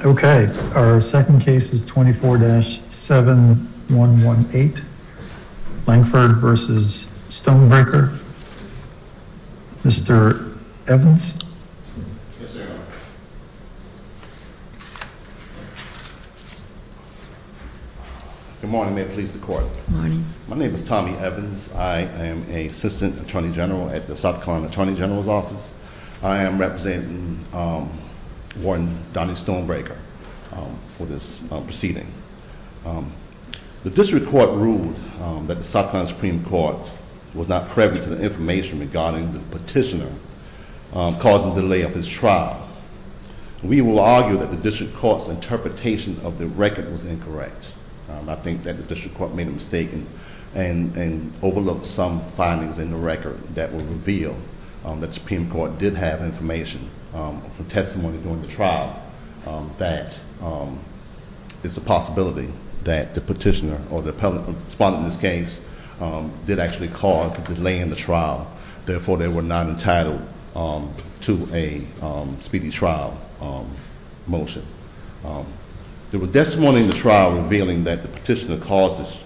Okay, our second case is 24-7118, Langford v. Stonebreaker. Mr. Evans? Good morning, may it please the court. My name is Tommy Evans. I am an Assistant Attorney General at the South Carolina Attorney General's Office. I am representing Warren Donnie Stonebreaker for this proceeding. The district court ruled that the South Carolina Supreme Court was not preppy to the information regarding the petitioner causing delay of his trial. We will argue that the district court's interpretation of the record was incorrect. I think that the district court made a mistake and overlooked some findings in the record that will reveal that the Supreme Court did have information, testimony during the trial, that it's a possibility that the petitioner or the appellant responding to this case did actually cause delay in the trial. Therefore, they were not entitled to a speedy trial motion. There was testimony in the trial revealing that the petitioner caused the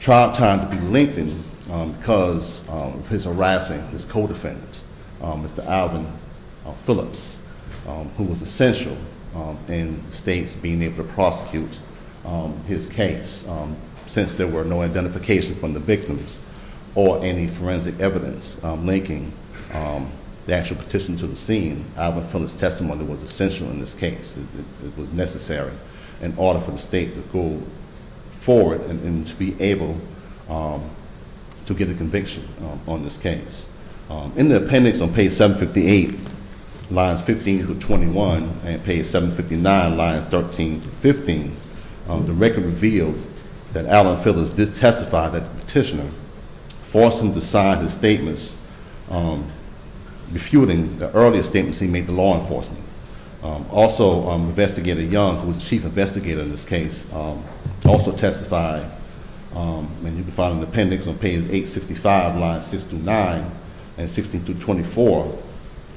trial time to be lengthened because of his harassing his co-defendant, Mr. Alvin Phillips, who was essential in the state's being able to prosecute his case. Since there were no identification from the victims or any forensic evidence linking the actual petition to the scene, Alvin Phillips' testimony was essential in this case. It was necessary in order for the state to go forward and to be able to get a conviction on this case. In the appendix on page 758, lines 15 through 21, and page 759, lines 13 through 15, the record revealed that Alvin Phillips did testify that the petitioner forced him to sign his statements, refuting the earlier statements he made to law enforcement. Also, Investigator Young, who was the chief investigator in this case, also testified, and you can find in the appendix on page 865, lines 6 through 9, and 16 through 24,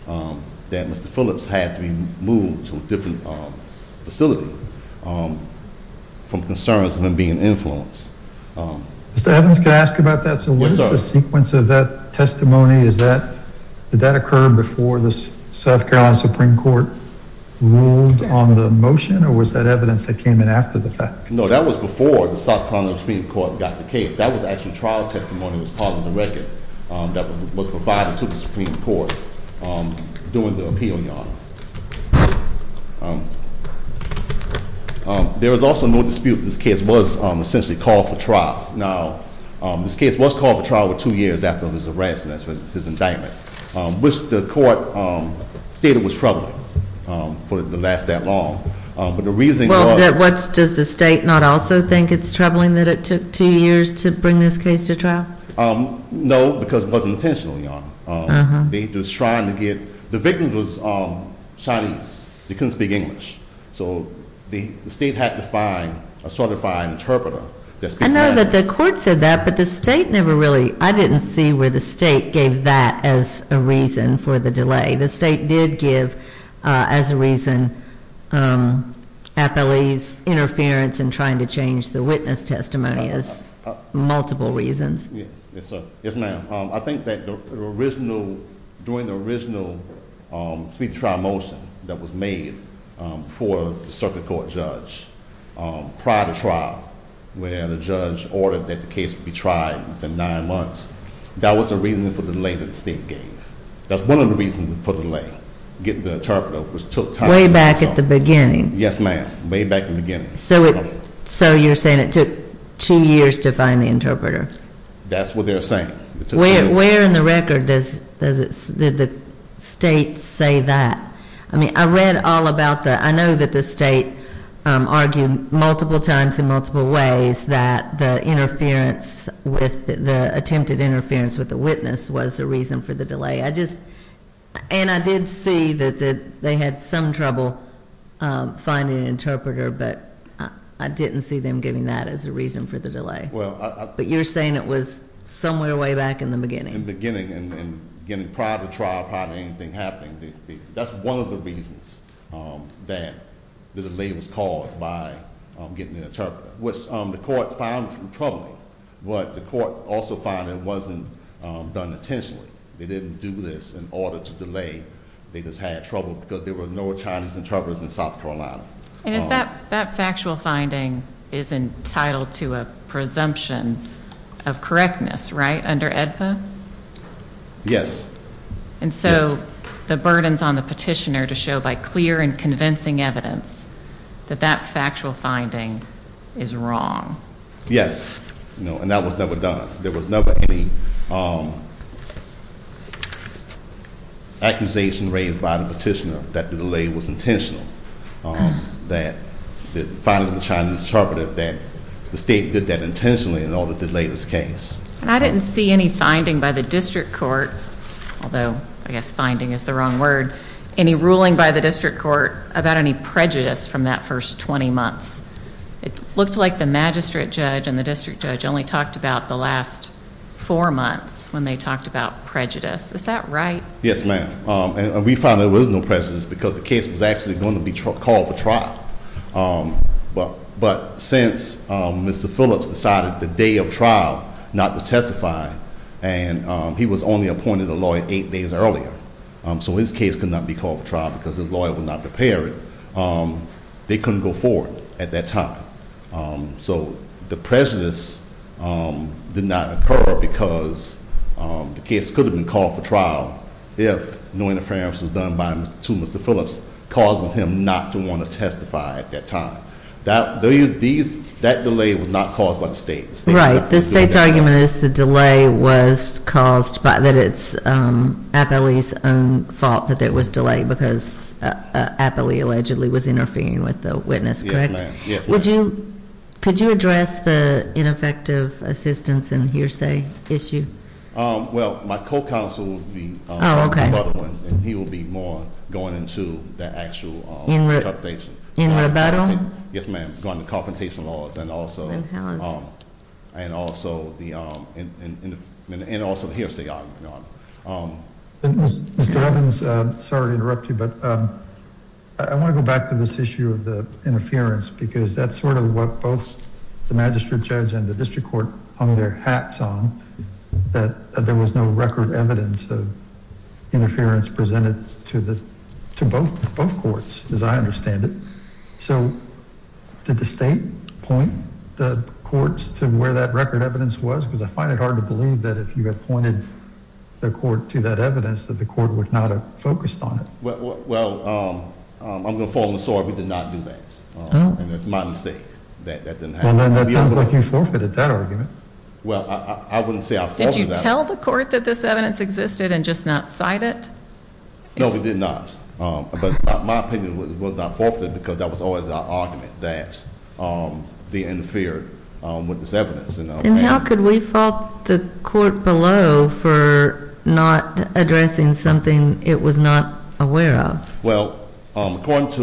that Mr. Phillips had to be moved to a different facility from concerns of him being an influence. Mr. Evans, can I ask about that? Yes, sir. So what is the sequence of that testimony? Did that occur before the South Carolina Supreme Court ruled on the motion, or was that evidence that came in after the fact? No, that was before the South Carolina Supreme Court got the case. That was actually trial testimony that was part of the record that was provided to the Supreme Court during the appeal, Your Honor. There was also no dispute that this case was essentially called for trial. Now, this case was called for trial two years after his arrest and his indictment, which the court stated was troubling for it to last that long. Well, does the state not also think it's troubling that it took two years to bring this case to trial? No, because it wasn't intentional, Your Honor. They were just trying to get, the victim was Chinese. They couldn't speak English. So the state had to find a certified interpreter. I know that the court said that, but the state never really, I didn't see where the state gave that as a reason for the delay. The state did give, as a reason, appellee's interference in trying to change the witness testimony as multiple reasons. Yes, sir. Yes, ma'am. I think that during the original trial motion that was made for the circuit court judge prior to trial, where the judge ordered that the case be tried within nine months, that was the reason for the delay that the state gave. That's one of the reasons for the delay, getting the interpreter, which took time. Way back at the beginning. Yes, ma'am. Way back at the beginning. So you're saying it took two years to find the interpreter? That's what they're saying. It took two years. Where in the record did the state say that? I mean, I read all about that. I know that the state argued multiple times in multiple ways that the interference with, the attempted interference with the witness was the reason for the delay. I just, and I did see that they had some trouble finding an interpreter, but I didn't see them giving that as a reason for the delay. But you're saying it was somewhere way back in the beginning. In the beginning, and prior to trial, prior to anything happening, that's one of the reasons that the delay was caused by getting the interpreter, which the court found troubling, but the court also found it wasn't done intentionally. They didn't do this in order to delay. They just had trouble because there were no Chinese interpreters in South Carolina. That factual finding is entitled to a presumption of correctness, right, under AEDPA? Yes. And so the burdens on the petitioner to show by clear and convincing evidence that that factual finding is wrong. Yes. And that was never done. There was never any accusation raised by the petitioner that the delay was intentional, that the finding of the Chinese interpreter, that the state did that intentionally in order to delay this case. I didn't see any finding by the district court, although I guess finding is the wrong word, any ruling by the district court about any prejudice from that first 20 months. It looked like the magistrate judge and the district judge only talked about the last four months when they talked about prejudice. Is that right? Yes, ma'am. And we found there was no prejudice because the case was actually going to be called for trial. But since Mr. Phillips decided the day of trial not to testify, and he was only appointed a lawyer eight days earlier, so his case could not be called for trial because his lawyer would not prepare it, they couldn't go forward at that time. So the prejudice did not occur because the case could have been called for trial if no interference was done to Mr. Phillips, causing him not to want to testify at that time. That delay was not caused by the state. Right, the state's argument is the delay was caused by, that it's Appley's own fault that there was delay because Appley allegedly was interfering with the witness, correct? Yes, ma'am. Could you address the ineffective assistance and hearsay issue? Well, my co-counsel will be- Oh, okay. And he will be more going into the actual interpretation. In rebuttal? Yes, ma'am. Going to confrontation laws and also- And powers. And also the hearsay argument. Mr. Evans, sorry to interrupt you, but I want to go back to this issue of the interference because that's sort of what both the magistrate judge and the district court hung their hats on, that there was no record evidence of interference presented to both courts, as I understand it. So did the state point the courts to where that record evidence was? Because I find it hard to believe that if you had pointed the court to that evidence that the court would not have focused on it. Well, I'm going to fall on the sword. We did not do that, and it's my mistake that that didn't happen. Well, then that sounds like you forfeited that argument. Well, I wouldn't say I forfeited- Did you tell the court that this evidence existed and just not cite it? No, we did not. But my opinion was not forfeited because that was always our argument, that they interfered with this evidence. And how could we fault the court below for not addressing something it was not aware of? Well, according to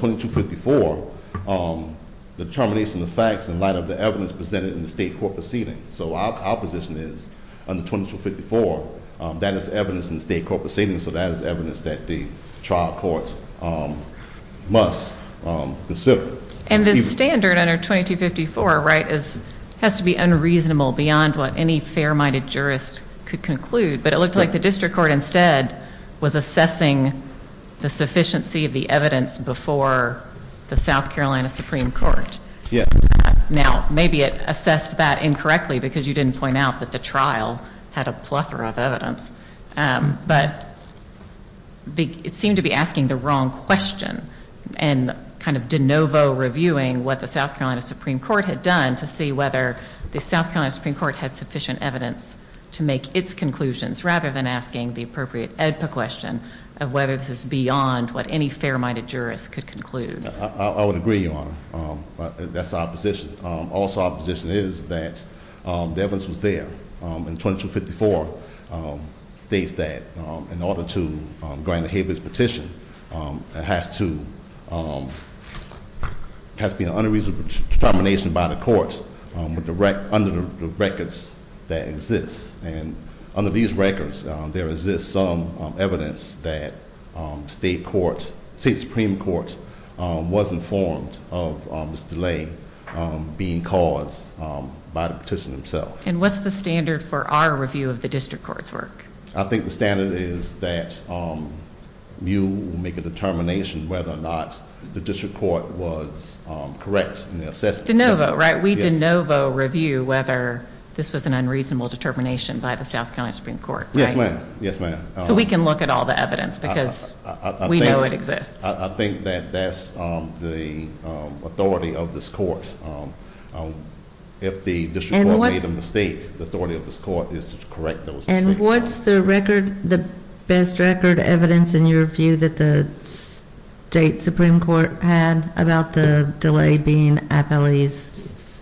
2254, the determination of facts in light of the evidence presented in the state court proceeding. So our position is, under 2254, that is evidence in the state court proceeding, so that is evidence that the trial court must- And the standard under 2254, right, has to be unreasonable beyond what any fair-minded jurist could conclude. But it looked like the district court instead was assessing the sufficiency of the evidence before the South Carolina Supreme Court. Yes. Now, maybe it assessed that incorrectly because you didn't point out that the trial had a plethora of evidence. But it seemed to be asking the wrong question and kind of de novo reviewing what the South Carolina Supreme Court had done to see whether the South Carolina Supreme Court had sufficient evidence to make its conclusions, rather than asking the appropriate AEDPA question of whether this is beyond what any fair-minded jurist could conclude. I would agree, Your Honor. That's our position. Also, our position is that the evidence was there. And 2254 states that, in order to grant a habeas petition, there has to be an unreasonable determination by the courts under the records that exist. And under these records, there exists some evidence that state courts, state Supreme Courts, was informed of this delay being caused by the petition itself. And what's the standard for our review of the district court's work? I think the standard is that you make a determination whether or not the district court was correct in assessing- De novo, right? We de novo review whether this was an unreasonable determination by the South Carolina Supreme Court. Yes, ma'am. So we can look at all the evidence because we know it exists. I think that that's the authority of this court. If the district court made a mistake, the authority of this court is to correct those. And what's the best record evidence, in your view, that the state Supreme Court had about the delay being appellee's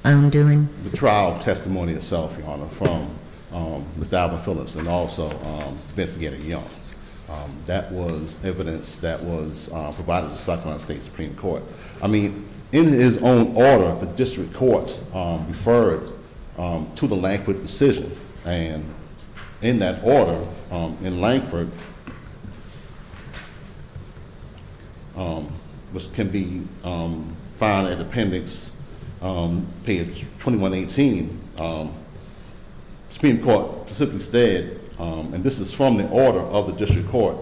own doing? The trial testimony itself, Your Honor, from Ms. Alva Phillips and also investigator Young. That was evidence that was provided to South Carolina State Supreme Court. I mean, in his own order, the district courts referred to the Langford decision. And in that order, in Langford, which can be found in appendix page 2118, Supreme Court simply said, and this is from the order of the district court,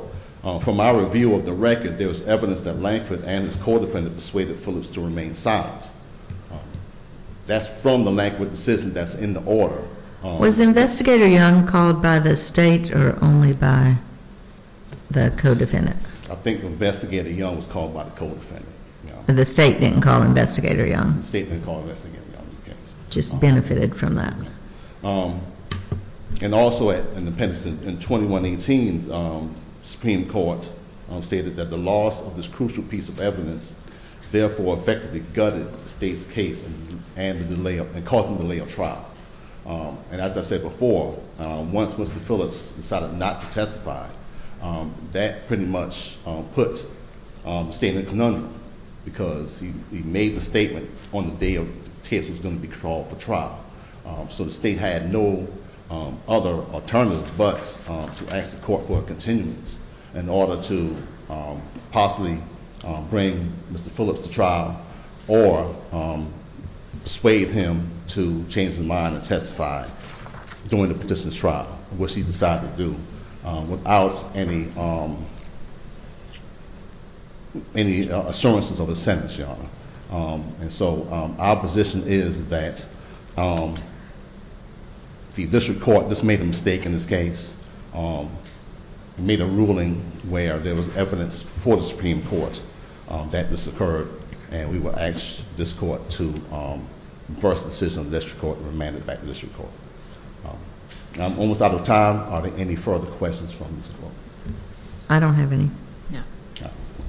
from our review of the record, there was evidence that Langford and his co-defendant persuaded Phillips to remain silent. That's from the Langford decision that's in the order. Was investigator Young called by the state or only by the co-defendant? I think investigator Young was called by the co-defendant. The state didn't call investigator Young? The state didn't call investigator Young. Just benefited from that. And also in appendix 2118, Supreme Court stated that the loss of this crucial piece of evidence therefore effectively gutted the state's case and caused a delay of trial. And as I said before, once Mr. Phillips decided not to testify, that pretty much put the state in a conundrum, because he made the statement on the day the case was going to be called for trial. So the state had no other alternative but to ask the court for a continuance in order to possibly bring Mr. Phillips to trial. Or persuade him to change his mind and testify during the petition's trial, which he decided to do without any assurances of a sentence, Your Honor. And so our position is that the district court just made a mistake in this case. It made a ruling where there was evidence for the Supreme Court that this occurred. And we will ask this court to reverse the decision of the district court and remand it back to the district court. I'm almost out of time. Are there any further questions from this court? I don't have any.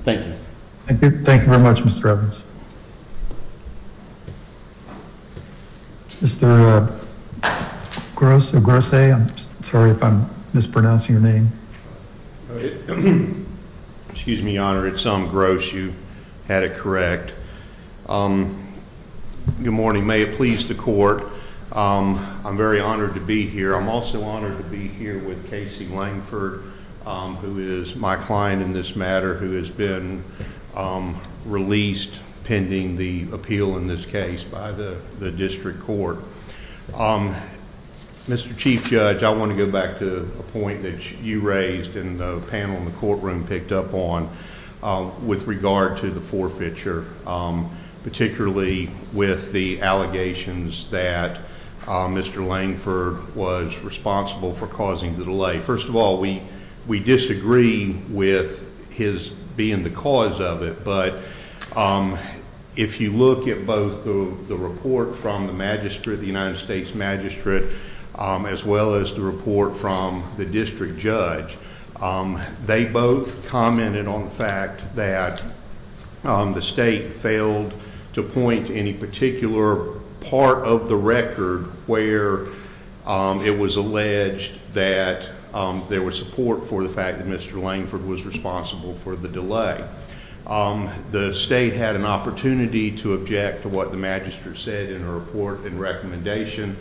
Thank you. Thank you very much, Mr. Evans. Mr. Gross, I'm sorry if I'm mispronouncing your name. Excuse me, Your Honor. It's Tom Gross. You had it correct. Good morning. May it please the court. I'm very honored to be here. I'm also honored to be here with Casey Langford, who is my client in this matter, who has been released pending the appeal in this case by the district court. Mr. Chief Judge, I want to go back to a point that you raised and the panel in the courtroom picked up on with regard to the forfeiture, particularly with the allegations that Mr. Langford was responsible for causing the delay. First of all, we disagree with his being the cause of it, but if you look at both the report from the magistrate, the United States magistrate, as well as the report from the district judge, they both commented on the fact that the state failed to point to any particular part of the record where it was alleged that there was support for the fact that Mr. Langford was responsible for the delay. The state had an opportunity to object to what the magistrate said in her report and recommendation.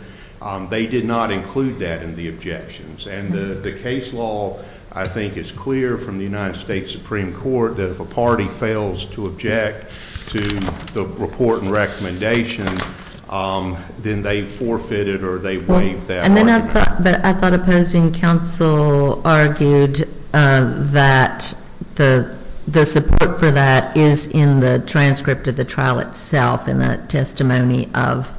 They did not include that in the objections, and the case law, I think, is clear from the United States Supreme Court that if a party fails to object to the report and recommendation, then they forfeited or they waived that argument. But I thought opposing counsel argued that the support for that is in the transcript of the trial itself and that testimony of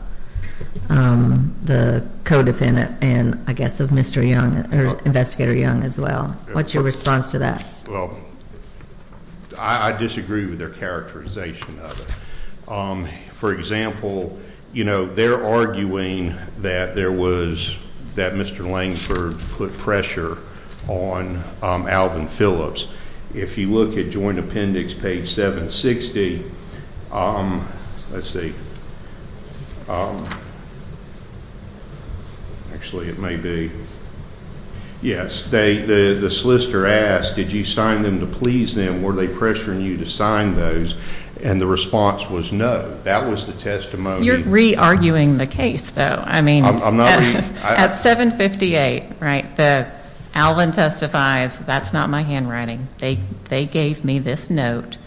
the co-defendant and, I guess, of Mr. Young, or Investigator Young as well. What's your response to that? Well, I disagree with their characterization of it. For example, they're arguing that Mr. Langford put pressure on Alvin Phillips. If you look at Joint Appendix, page 760, let's see. Actually, it may be. Yes, the solicitor asked, did you sign them to please them? Were they pressuring you to sign those? And the response was no. That was the testimony. You're re-arguing the case, though. I mean, at 758, right, Alvin testifies, that's not my handwriting. They gave me this note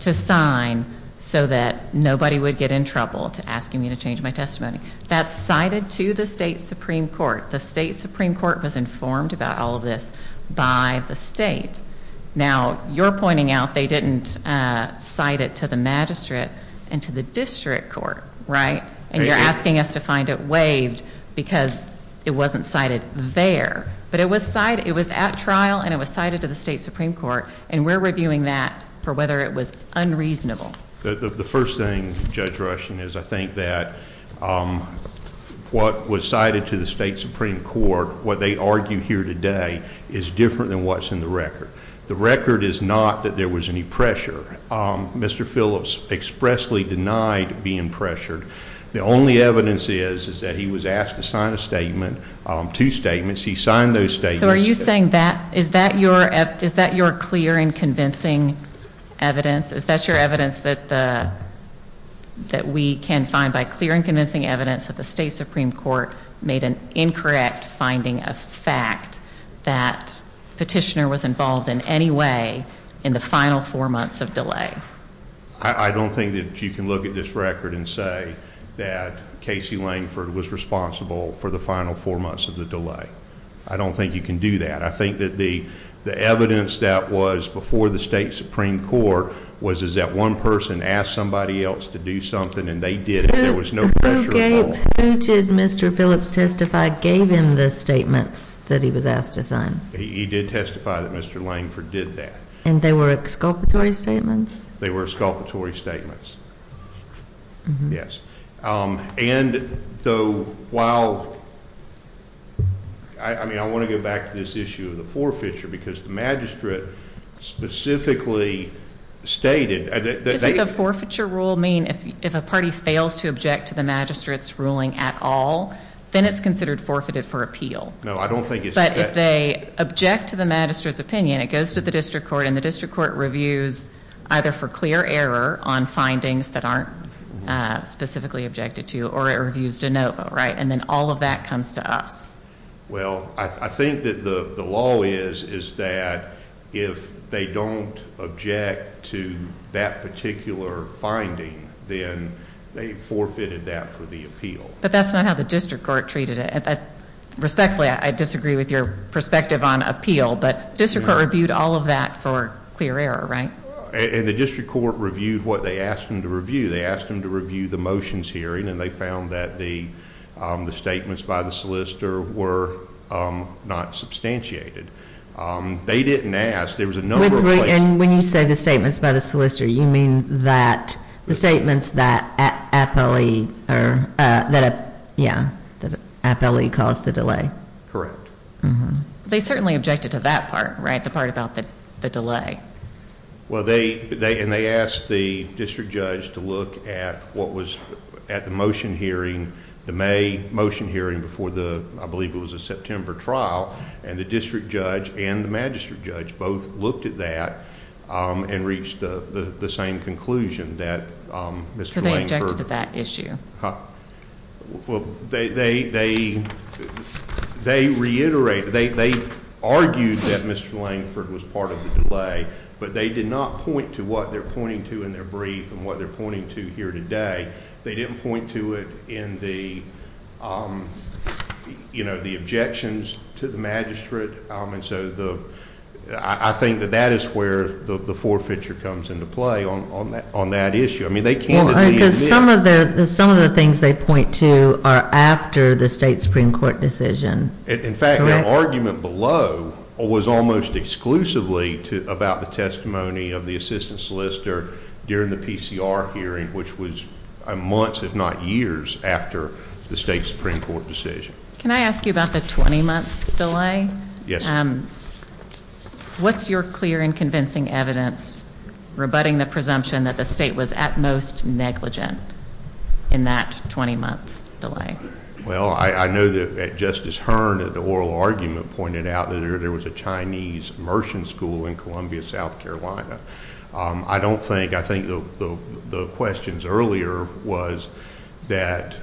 to sign so that nobody would get in trouble to asking me to change my testimony. That's cited to the state Supreme Court. The state Supreme Court was informed about all of this by the state. Now, you're pointing out they didn't cite it to the magistrate and to the district court, right? And you're asking us to find it waived because it wasn't cited there. But it was at trial and it was cited to the state Supreme Court, and we're reviewing that for whether it was unreasonable. The first thing, Judge Rushing, is I think that what was cited to the state Supreme Court, what they argue here today, is different than what's in the record. The record is not that there was any pressure. Mr. Phillips expressly denied being pressured. The only evidence is that he was asked to sign a statement, two statements. He signed those statements. So are you saying that, is that your clear and convincing evidence? Is that your evidence that we can find by clear and convincing evidence that the state Supreme Court made an incorrect finding of fact that petitioner was involved in any way in the final four months of delay? I don't think that you can look at this record and say that Casey Langford was responsible for the final four months of the delay. I don't think you can do that. I think that the evidence that was before the state Supreme Court was that one person asked somebody else to do something and they did it. There was no pressure at all. Who did Mr. Phillips testify gave him the statements that he was asked to sign? He did testify that Mr. Langford did that. And they were exculpatory statements? They were exculpatory statements, yes. And though while, I mean, I want to go back to this issue of the forfeiture because the magistrate specifically stated that they Does the forfeiture rule mean if a party fails to object to the magistrate's ruling at all, then it's considered forfeited for appeal? No, I don't think it's But if they object to the magistrate's opinion, it goes to the district court and the district court reviews either for clear error on findings that aren't specifically objected to, or it reviews de novo, right? And then all of that comes to us. Well, I think that the law is that if they don't object to that particular finding, then they forfeited that for the appeal. But that's not how the district court treated it. Respectfully, I disagree with your perspective on appeal, but the district court reviewed all of that for clear error, right? And the district court reviewed what they asked them to review. They asked them to review the motions hearing, and they found that the statements by the solicitor were not substantiated. They didn't ask. There was a number of places. And when you say the statements by the solicitor, you mean that the statements that appellee caused the delay? Correct. They certainly objected to that part, right? The part about the delay. Well, they asked the district judge to look at what was at the motion hearing, the May motion hearing before the, I believe it was a September trial, and the district judge and the magistrate judge both looked at that and reached the same conclusion that Mr. Lankford. So they objected to that issue? Well, they reiterated, they argued that Mr. Lankford was part of the delay, but they did not point to what they're pointing to in their brief and what they're pointing to here today. They didn't point to it in the, you know, the objections to the magistrate. And so I think that that is where the forfeiture comes into play on that issue. I mean, they candidly admit. Well, because some of the things they point to are after the state Supreme Court decision. In fact, the argument below was almost exclusively about the testimony of the assistant solicitor during the PCR hearing, which was months, if not years, after the state Supreme Court decision. Can I ask you about the 20-month delay? Yes. What's your clear and convincing evidence rebutting the presumption that the state was at most negligent in that 20-month delay? Well, I know that Justice Hearn at the oral argument pointed out that there was a Chinese immersion school in Columbia, South Carolina. I don't think, I think the questions earlier was that,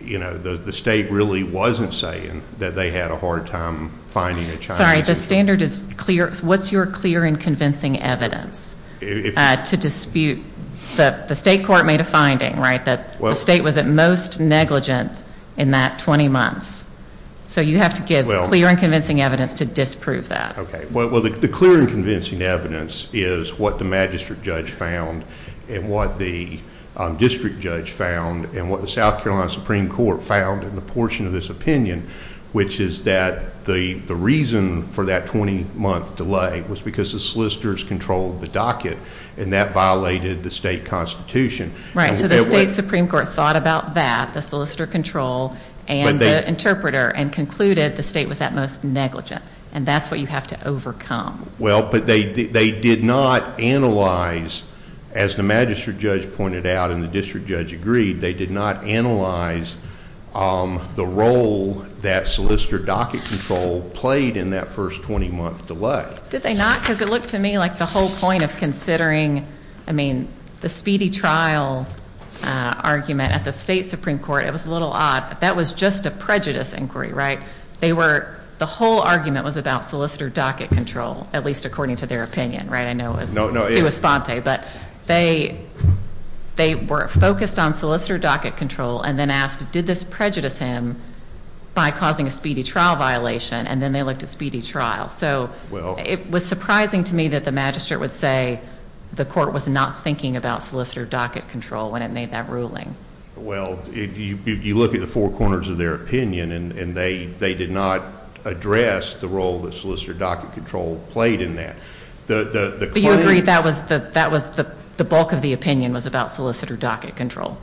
you know, the state really wasn't saying that they had a hard time finding a Chinese. Sorry, the standard is clear. What's your clear and convincing evidence to dispute that the state court made a finding, right, that the state was at most negligent in that 20 months? So you have to give clear and convincing evidence to disprove that. Okay. Well, the clear and convincing evidence is what the magistrate judge found and what the district judge found and what the South Carolina Supreme Court found in the portion of this opinion, which is that the reason for that 20-month delay was because the solicitors controlled the docket, and that violated the state constitution. Right. So the state Supreme Court thought about that, the solicitor control and the interpreter, and concluded the state was at most negligent, and that's what you have to overcome. Well, but they did not analyze, as the magistrate judge pointed out and the district judge agreed, they did not analyze the role that solicitor docket control played in that first 20-month delay. Did they not? Because it looked to me like the whole point of considering, I mean, the speedy trial argument at the state Supreme Court, it was a little odd, that was just a prejudice inquiry, right? They were, the whole argument was about solicitor docket control, at least according to their opinion, right? I know it was. No, no. It was Sponte, but they were focused on solicitor docket control and then asked, did this prejudice him by causing a speedy trial violation? And then they looked at speedy trial. So it was surprising to me that the magistrate would say the court was not thinking about solicitor docket control when it made that ruling. Well, you look at the four corners of their opinion and they did not address the role that solicitor docket control played in that. But you agree that the bulk of the opinion was about solicitor docket control?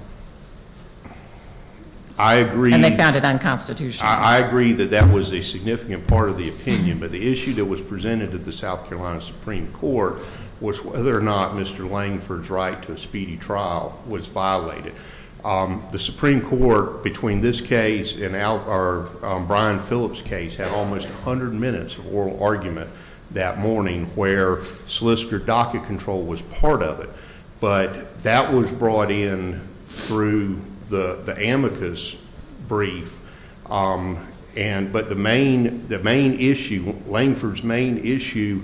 I agree. And they found it unconstitutional. I agree that that was a significant part of the opinion, but the issue that was presented to the South Carolina Supreme Court was whether or not Mr. Langford's right to a speedy trial was violated. The Supreme Court, between this case and Brian Phillips' case, had almost 100 minutes of oral argument that morning where solicitor docket control was part of it. But that was brought in through the amicus brief. But the main issue, Langford's main issue,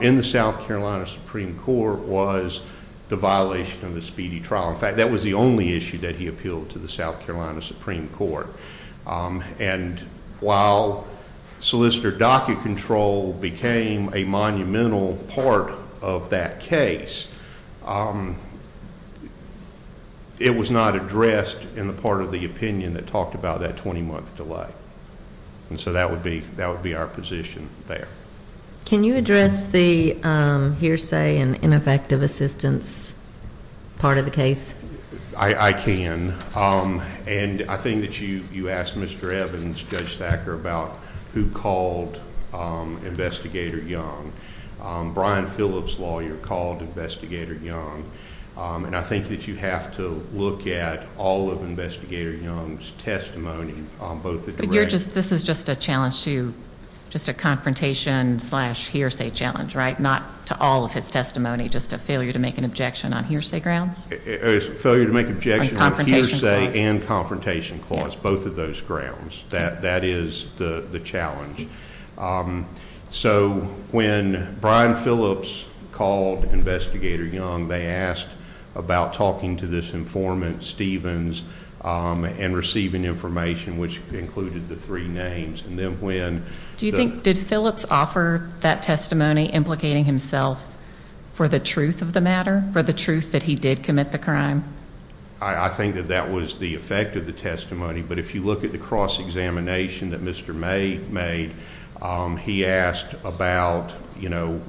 in the South Carolina Supreme Court was the violation of the speedy trial. In fact, that was the only issue that he appealed to the South Carolina Supreme Court. And while solicitor docket control became a monumental part of that case, it was not addressed in the part of the opinion that talked about that 20-month delay. And so that would be our position there. Can you address the hearsay and ineffective assistance part of the case? I can. And I think that you asked Mr. Evans, Judge Thacker, about who called Investigator Young. Brian Phillips' lawyer called Investigator Young. And I think that you have to look at all of Investigator Young's testimony, both the directó This is just a challenge toójust a confrontation-slash-hearsay challenge, right? Not to all of his testimony, just a failure to make an objection on hearsay grounds? A failure to make an objection on hearsay and confrontation clause, both of those grounds. That is the challenge. So when Brian Phillips called Investigator Young, they asked about talking to this informant, Stevens, and receiving information, which included the three names. And then whenó Do you thinkódid Phillips offer that testimony implicating himself for the truth of the matter, for the truth that he did commit the crime? I think that that was the effect of the testimony. But if you look at the cross-examination that Mr. May made, he asked about, you know,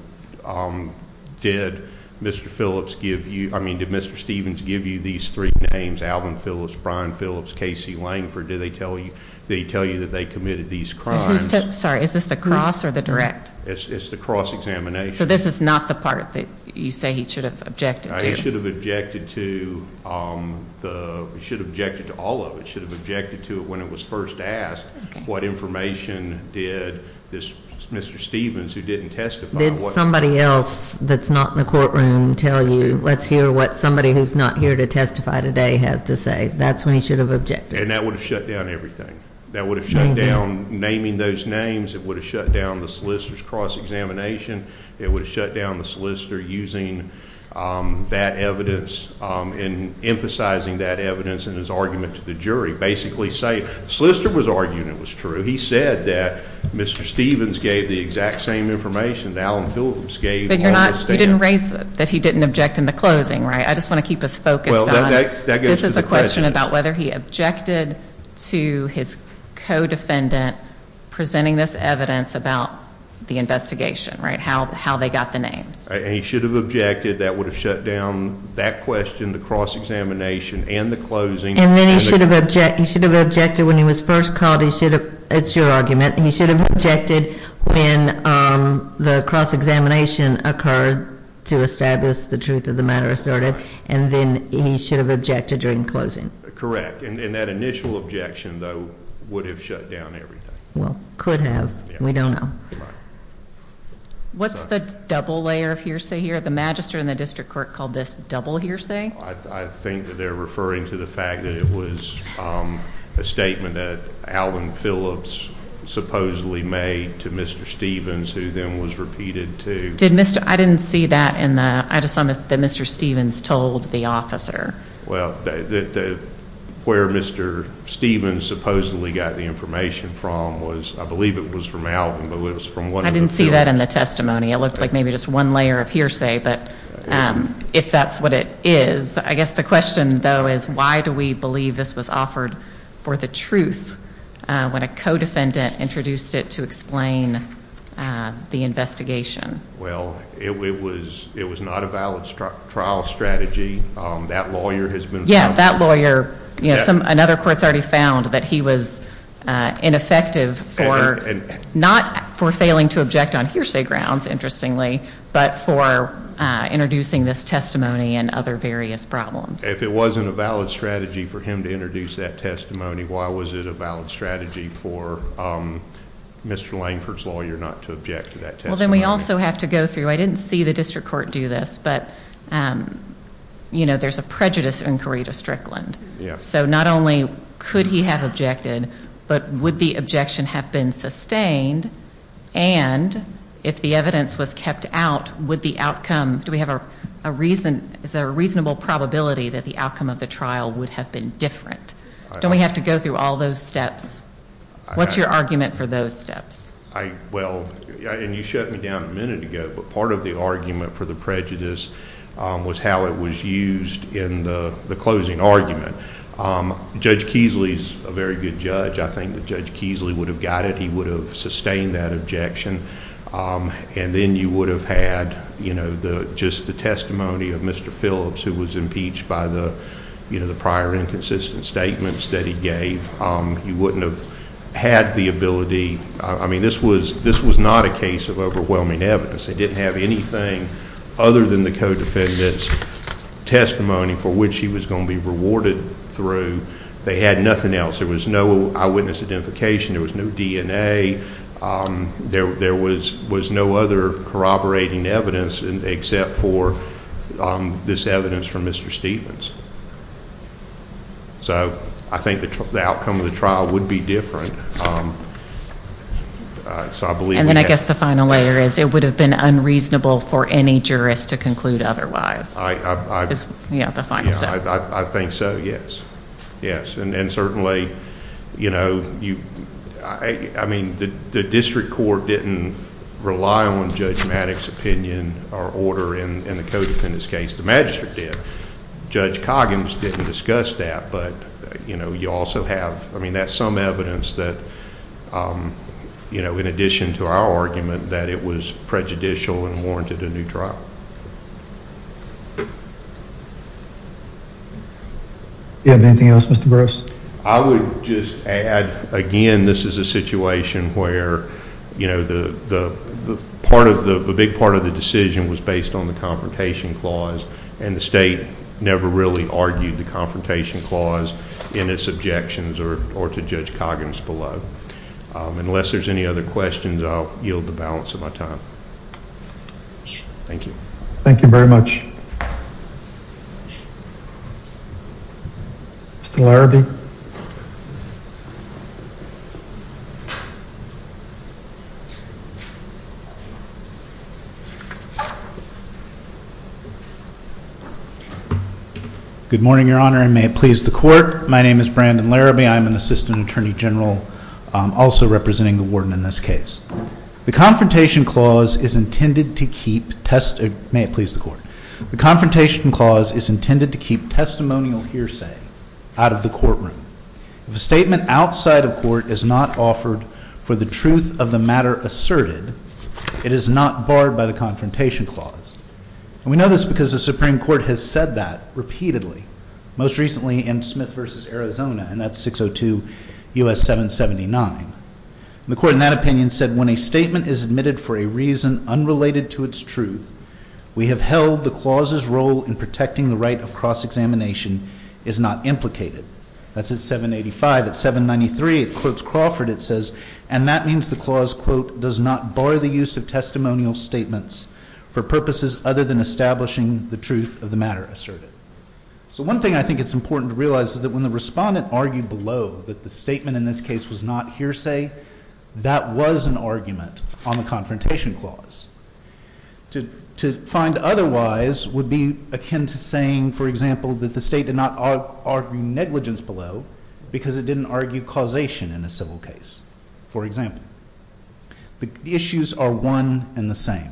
did Mr. Phillips give youóI mean, did Mr. Stevens give you these three names, Alvin Phillips, Brian Phillips, Casey Langford? Did he tell you that they committed these crimes? Sorry, is this the cross or the direct? It's the cross-examination. So this is not the part that you say he should have objected to? He should have objected toóhe should have objected to all of it. He should have objected to it when it was first asked what information did this Mr. Stevens, who didn't testifyó Did somebody else that's not in the courtroom tell you, let's hear what somebody who's not here to testify today has to say? That's when he should have objected. And that would have shut down everything. That would have shut down naming those names. It would have shut down the solicitor's cross-examination. It would have shut down the solicitor using that evidence and emphasizing that evidence in his argument to the jury, basically sayingó The solicitor was arguing it was true. He said that Mr. Stevens gave the exact same information that Alvin Phillips gaveó But you're notóyou didn't raise that he didn't object in the closing, right? I just want to keep us focused onó Well, that gets to the question. This is a question about whether he objected to his co-defendant presenting this evidence about the investigation, right? How they got the names. And he should have objected. That would have shut down that question, the cross-examination, and the closing. And then he should have objected when he was first called. He should haveóit's your argument. He should have objected when the cross-examination occurred to establish the truth of the matter asserted. And then he should have objected during closing. Correct. And that initial objection, though, would have shut down everything. Well, could have. We don't know. What's the double layer of hearsay here? The magister and the district court called this double hearsay? I think that they're referring to the fact that it was a statement that Alvin Phillips supposedly made to Mr. Stevens, who then was repeated toó Did Mr.óI didn't see that in theóI just saw that Mr. Stevens told the officer. Well, where Mr. Stevens supposedly got the information from wasóI believe it was from Alvinó I didn't see that in the testimony. It looked like maybe just one layer of hearsay. But if that's what it is, I guess the question, though, is why do we believe this was offered for the truth when a co-defendant introduced it to explain the investigation? Well, it was not a valid trial strategy. That lawyer has beenó Yeah, that lawyeróanother court's already found that he was ineffective foró Andó Not for failing to object on hearsay grounds, interestingly, but for introducing this testimony and other various problems. If it wasn't a valid strategy for him to introduce that testimony, why was it a valid strategy for Mr. Langford's lawyer not to object to that testimony? Well, then we also have to go throughóI didn't see the district court do this, but, you know, there's a prejudice inquiry to Strickland. Yeah. So not only could he have objected, but would the objection have been sustained, and if the evidence was kept out, would the outcomeódo we have a reasonó is there a reasonable probability that the outcome of the trial would have been different? Don't we have to go through all those steps? What's your argument for those steps? Well, and you shut me down a minute ago, but part of the argument for the prejudice was how it was used in the closing argument. Judge Keasley's a very good judge. I think that Judge Keasley would have got it. He would have sustained that objection, and then you would have had, you know, just the testimony of Mr. Phillips, who was impeached by the prior inconsistent statements that he gave. He wouldn't have had the abilityóI mean, this was not a case of overwhelming evidence. They didn't have anything other than the co-defendant's testimony for which he was going to be rewarded through. They had nothing else. There was no eyewitness identification. There was no DNA. There was no other corroborating evidence except for this evidence from Mr. Stevens. So I think the outcome of the trial would be different, so I believe we haveó And then I guess the final layer is it would have been unreasonable for any jurist to conclude otherwise. Ió Yeah, the final step. I think so, yes. Yes, and certainly, you know, I mean, the district court didn't rely on Judge Maddox's opinion or order in the co-defendant's case. The magistrate did. Judge Coggins didn't discuss that, but, you know, you also haveóI mean, that's some evidence that, you know, in addition to our argument, that it was prejudicial and warranted a new trial. Do you have anything else, Mr. Bruce? I would just add, again, this is a situation where, you know, the part of theó A big part of the decision was based on the Confrontation Clause, and the state never really argued the Confrontation Clause in its objections or to Judge Coggins below. Unless there's any other questions, I'll yield the balance of my time. Thank you. Thank you very much. Mr. Larrabee. Good morning, Your Honor, and may it please the Court. My name is Brandon Larrabee. I'm an assistant attorney general, also representing the warden in this case. The Confrontation Clause is intended to keepómay it please the Courtó The Confrontation Clause is intended to keep testimonial hearsay out of the courtroom. If a statement outside of court is not offered for the truth of the matter asserted, it is not barred by the Confrontation Clause. And we know this because the Supreme Court has said that repeatedly, most recently in Smith v. Arizona, and that's 602 U.S. 779. And the Court in that opinion said, when a statement is admitted for a reason unrelated to its truth, we have held the clause's role in protecting the right of cross-examination is not implicated. That's at 785. At 793, it quotes Crawford. It says, and that means the clause, quote, does not bar the use of testimonial statements for purposes other than establishing the truth of the matter asserted. So one thing I think it's important to realize is that when the respondent argued below that the statement in this case was not hearsay, that was an argument on the Confrontation Clause. To find otherwise would be akin to saying, for example, that the state did not argue negligence below because it didn't argue causation in a civil case, for example. The issues are one and the same.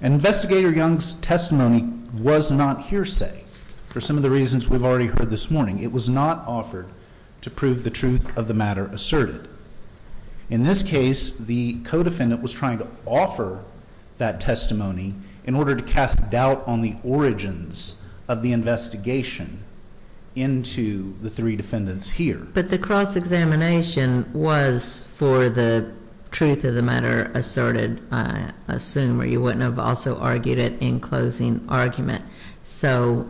Investigator Young's testimony was not hearsay for some of the reasons we've already heard this morning. It was not offered to prove the truth of the matter asserted. In this case, the co-defendant was trying to offer that testimony in order to cast doubt on the origins of the investigation into the three defendants here. But the cross-examination was for the truth of the matter asserted, I assume, or you wouldn't have also argued it in closing argument. So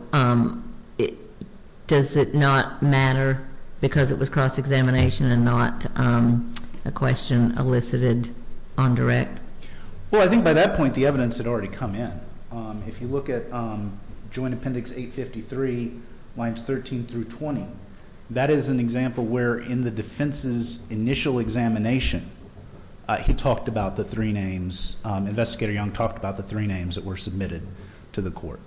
does it not matter because it was cross-examination and not a question elicited on direct? Well, I think by that point the evidence had already come in. If you look at Joint Appendix 853, lines 13 through 20, that is an example where in the defense's initial examination he talked about the three names, Investigator Young talked about the three names that were submitted to the court.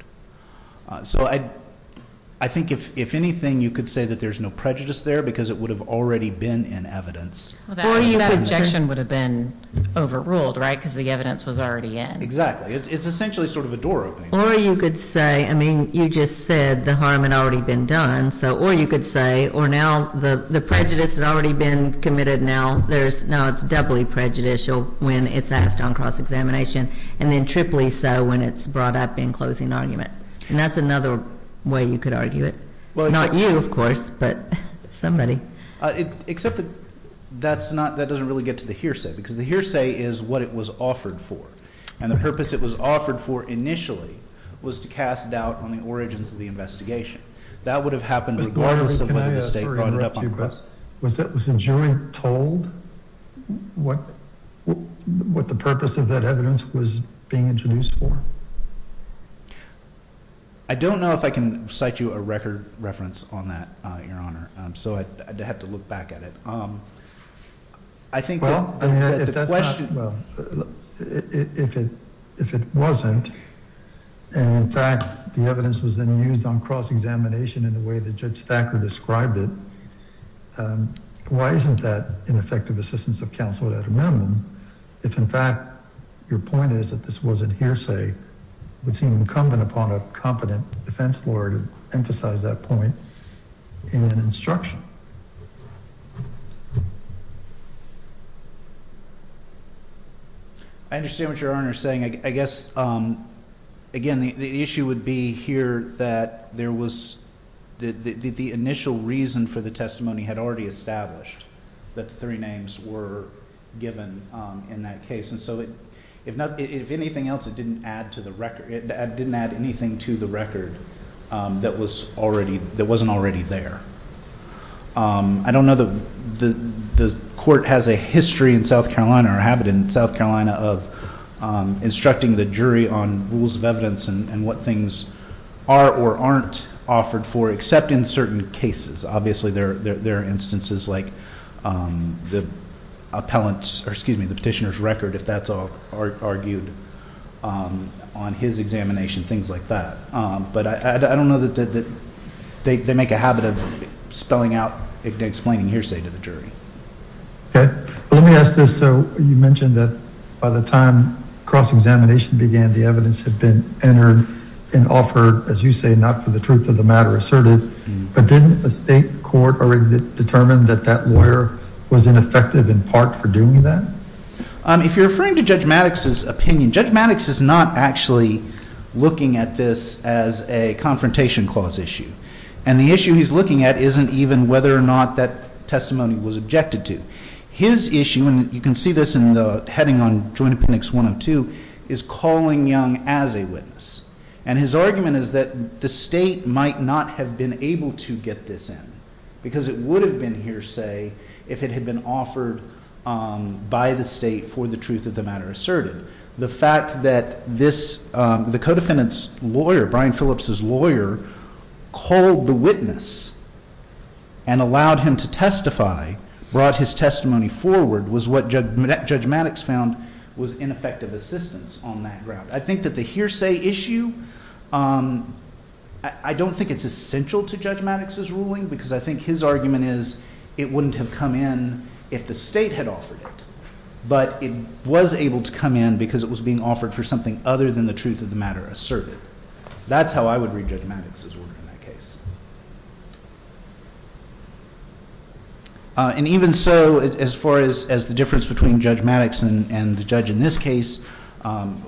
So I think if anything, you could say that there's no prejudice there because it would have already been in evidence. That objection would have been overruled, right, because the evidence was already in. Exactly. It's essentially sort of a door opening. Or you could say, I mean, you just said the harm had already been done, so or you could say, or now the prejudice had already been committed, now it's doubly prejudicial when it's asked on cross-examination, and then triply so when it's brought up in closing argument. And that's another way you could argue it. Not you, of course, but somebody. Except that that doesn't really get to the hearsay because the hearsay is what it was offered for. And the purpose it was offered for initially was to cast doubt on the origins of the investigation. That would have happened regardless of whether the state brought it up. Was it was a jury told what what the purpose of that evidence was being introduced for? I don't know if I can cite you a record reference on that, Your Honor. So I'd have to look back at it. I think if it wasn't. And in fact, the evidence was then used on cross-examination in the way that Judge Thacker described it. Why isn't that an effective assistance of counsel at a minimum? If, in fact, your point is that this wasn't hearsay, incumbent upon a competent defense lawyer to emphasize that point in an instruction. I understand what you're saying, I guess. Again, the issue would be here that there was the initial reason for the testimony had already established that three names were given in that case. And so if anything else, it didn't add to the record. It didn't add anything to the record that wasn't already there. I don't know that the court has a history in South Carolina or habit in South Carolina of instructing the jury on rules of evidence and what things are or aren't offered for, except in certain cases. Obviously, there are instances like the petitioner's record, if that's argued on his examination, things like that. But I don't know that they make a habit of spelling out, explaining hearsay to the jury. Let me ask this. You mentioned that by the time cross-examination began, the evidence had been entered and offered, as you say, not for the truth of the matter asserted. But didn't a state court already determine that that lawyer was ineffective in part for doing that? If you're referring to Judge Maddox's opinion, Judge Maddox is not actually looking at this as a confrontation clause issue. And the issue he's looking at isn't even whether or not that testimony was objected to. His issue, and you can see this in the heading on Joint Appendix 102, is calling Young as a witness. And his argument is that the state might not have been able to get this in because it would have been hearsay if it had been offered by the state for the truth of the matter asserted. The fact that the co-defendant's lawyer, Brian Phillips' lawyer, called the witness and allowed him to testify, brought his testimony forward, was what Judge Maddox found was ineffective assistance on that ground. I think that the hearsay issue, I don't think it's essential to Judge Maddox's ruling because I think his argument is it wouldn't have come in if the state had offered it. But it was able to come in because it was being offered for something other than the truth of the matter asserted. That's how I would read Judge Maddox's ruling in that case. And even so, as far as the difference between Judge Maddox and the judge in this case,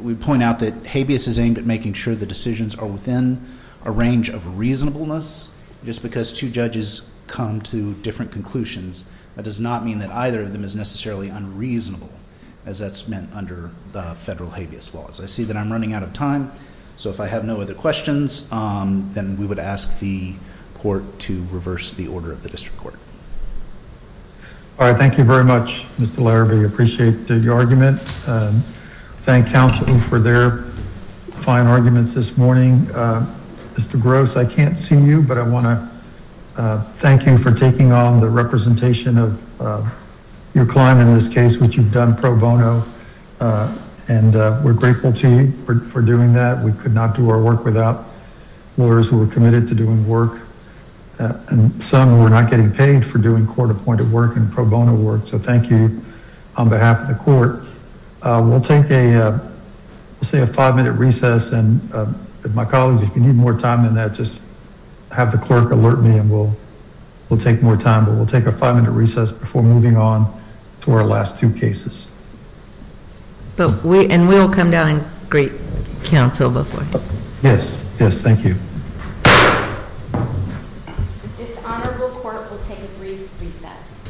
we point out that habeas is aimed at making sure the decisions are within a range of reasonableness. Just because two judges come to different conclusions, that does not mean that either of them is necessarily unreasonable as that's meant under the federal habeas laws. I see that I'm running out of time, so if I have no other questions, then we would ask the court to reverse the order of the district court. All right, thank you very much, Mr. Larrabee. I appreciate your argument. Thank counsel for their fine arguments this morning. Mr. Gross, I can't see you, but I want to thank you for taking on the representation of your client in this case, which you've done pro bono. And we're grateful to you for doing that. We could not do our work without lawyers who were committed to doing work. And some were not getting paid for doing court-appointed work and pro bono work. So thank you on behalf of the court. We'll take a five-minute recess. And my colleagues, if you need more time than that, just have the clerk alert me and we'll take more time. But we'll take a five-minute recess before moving on to our last two cases. And we'll come down and greet counsel before. Yes, yes, thank you. This honorable court will take a brief recess.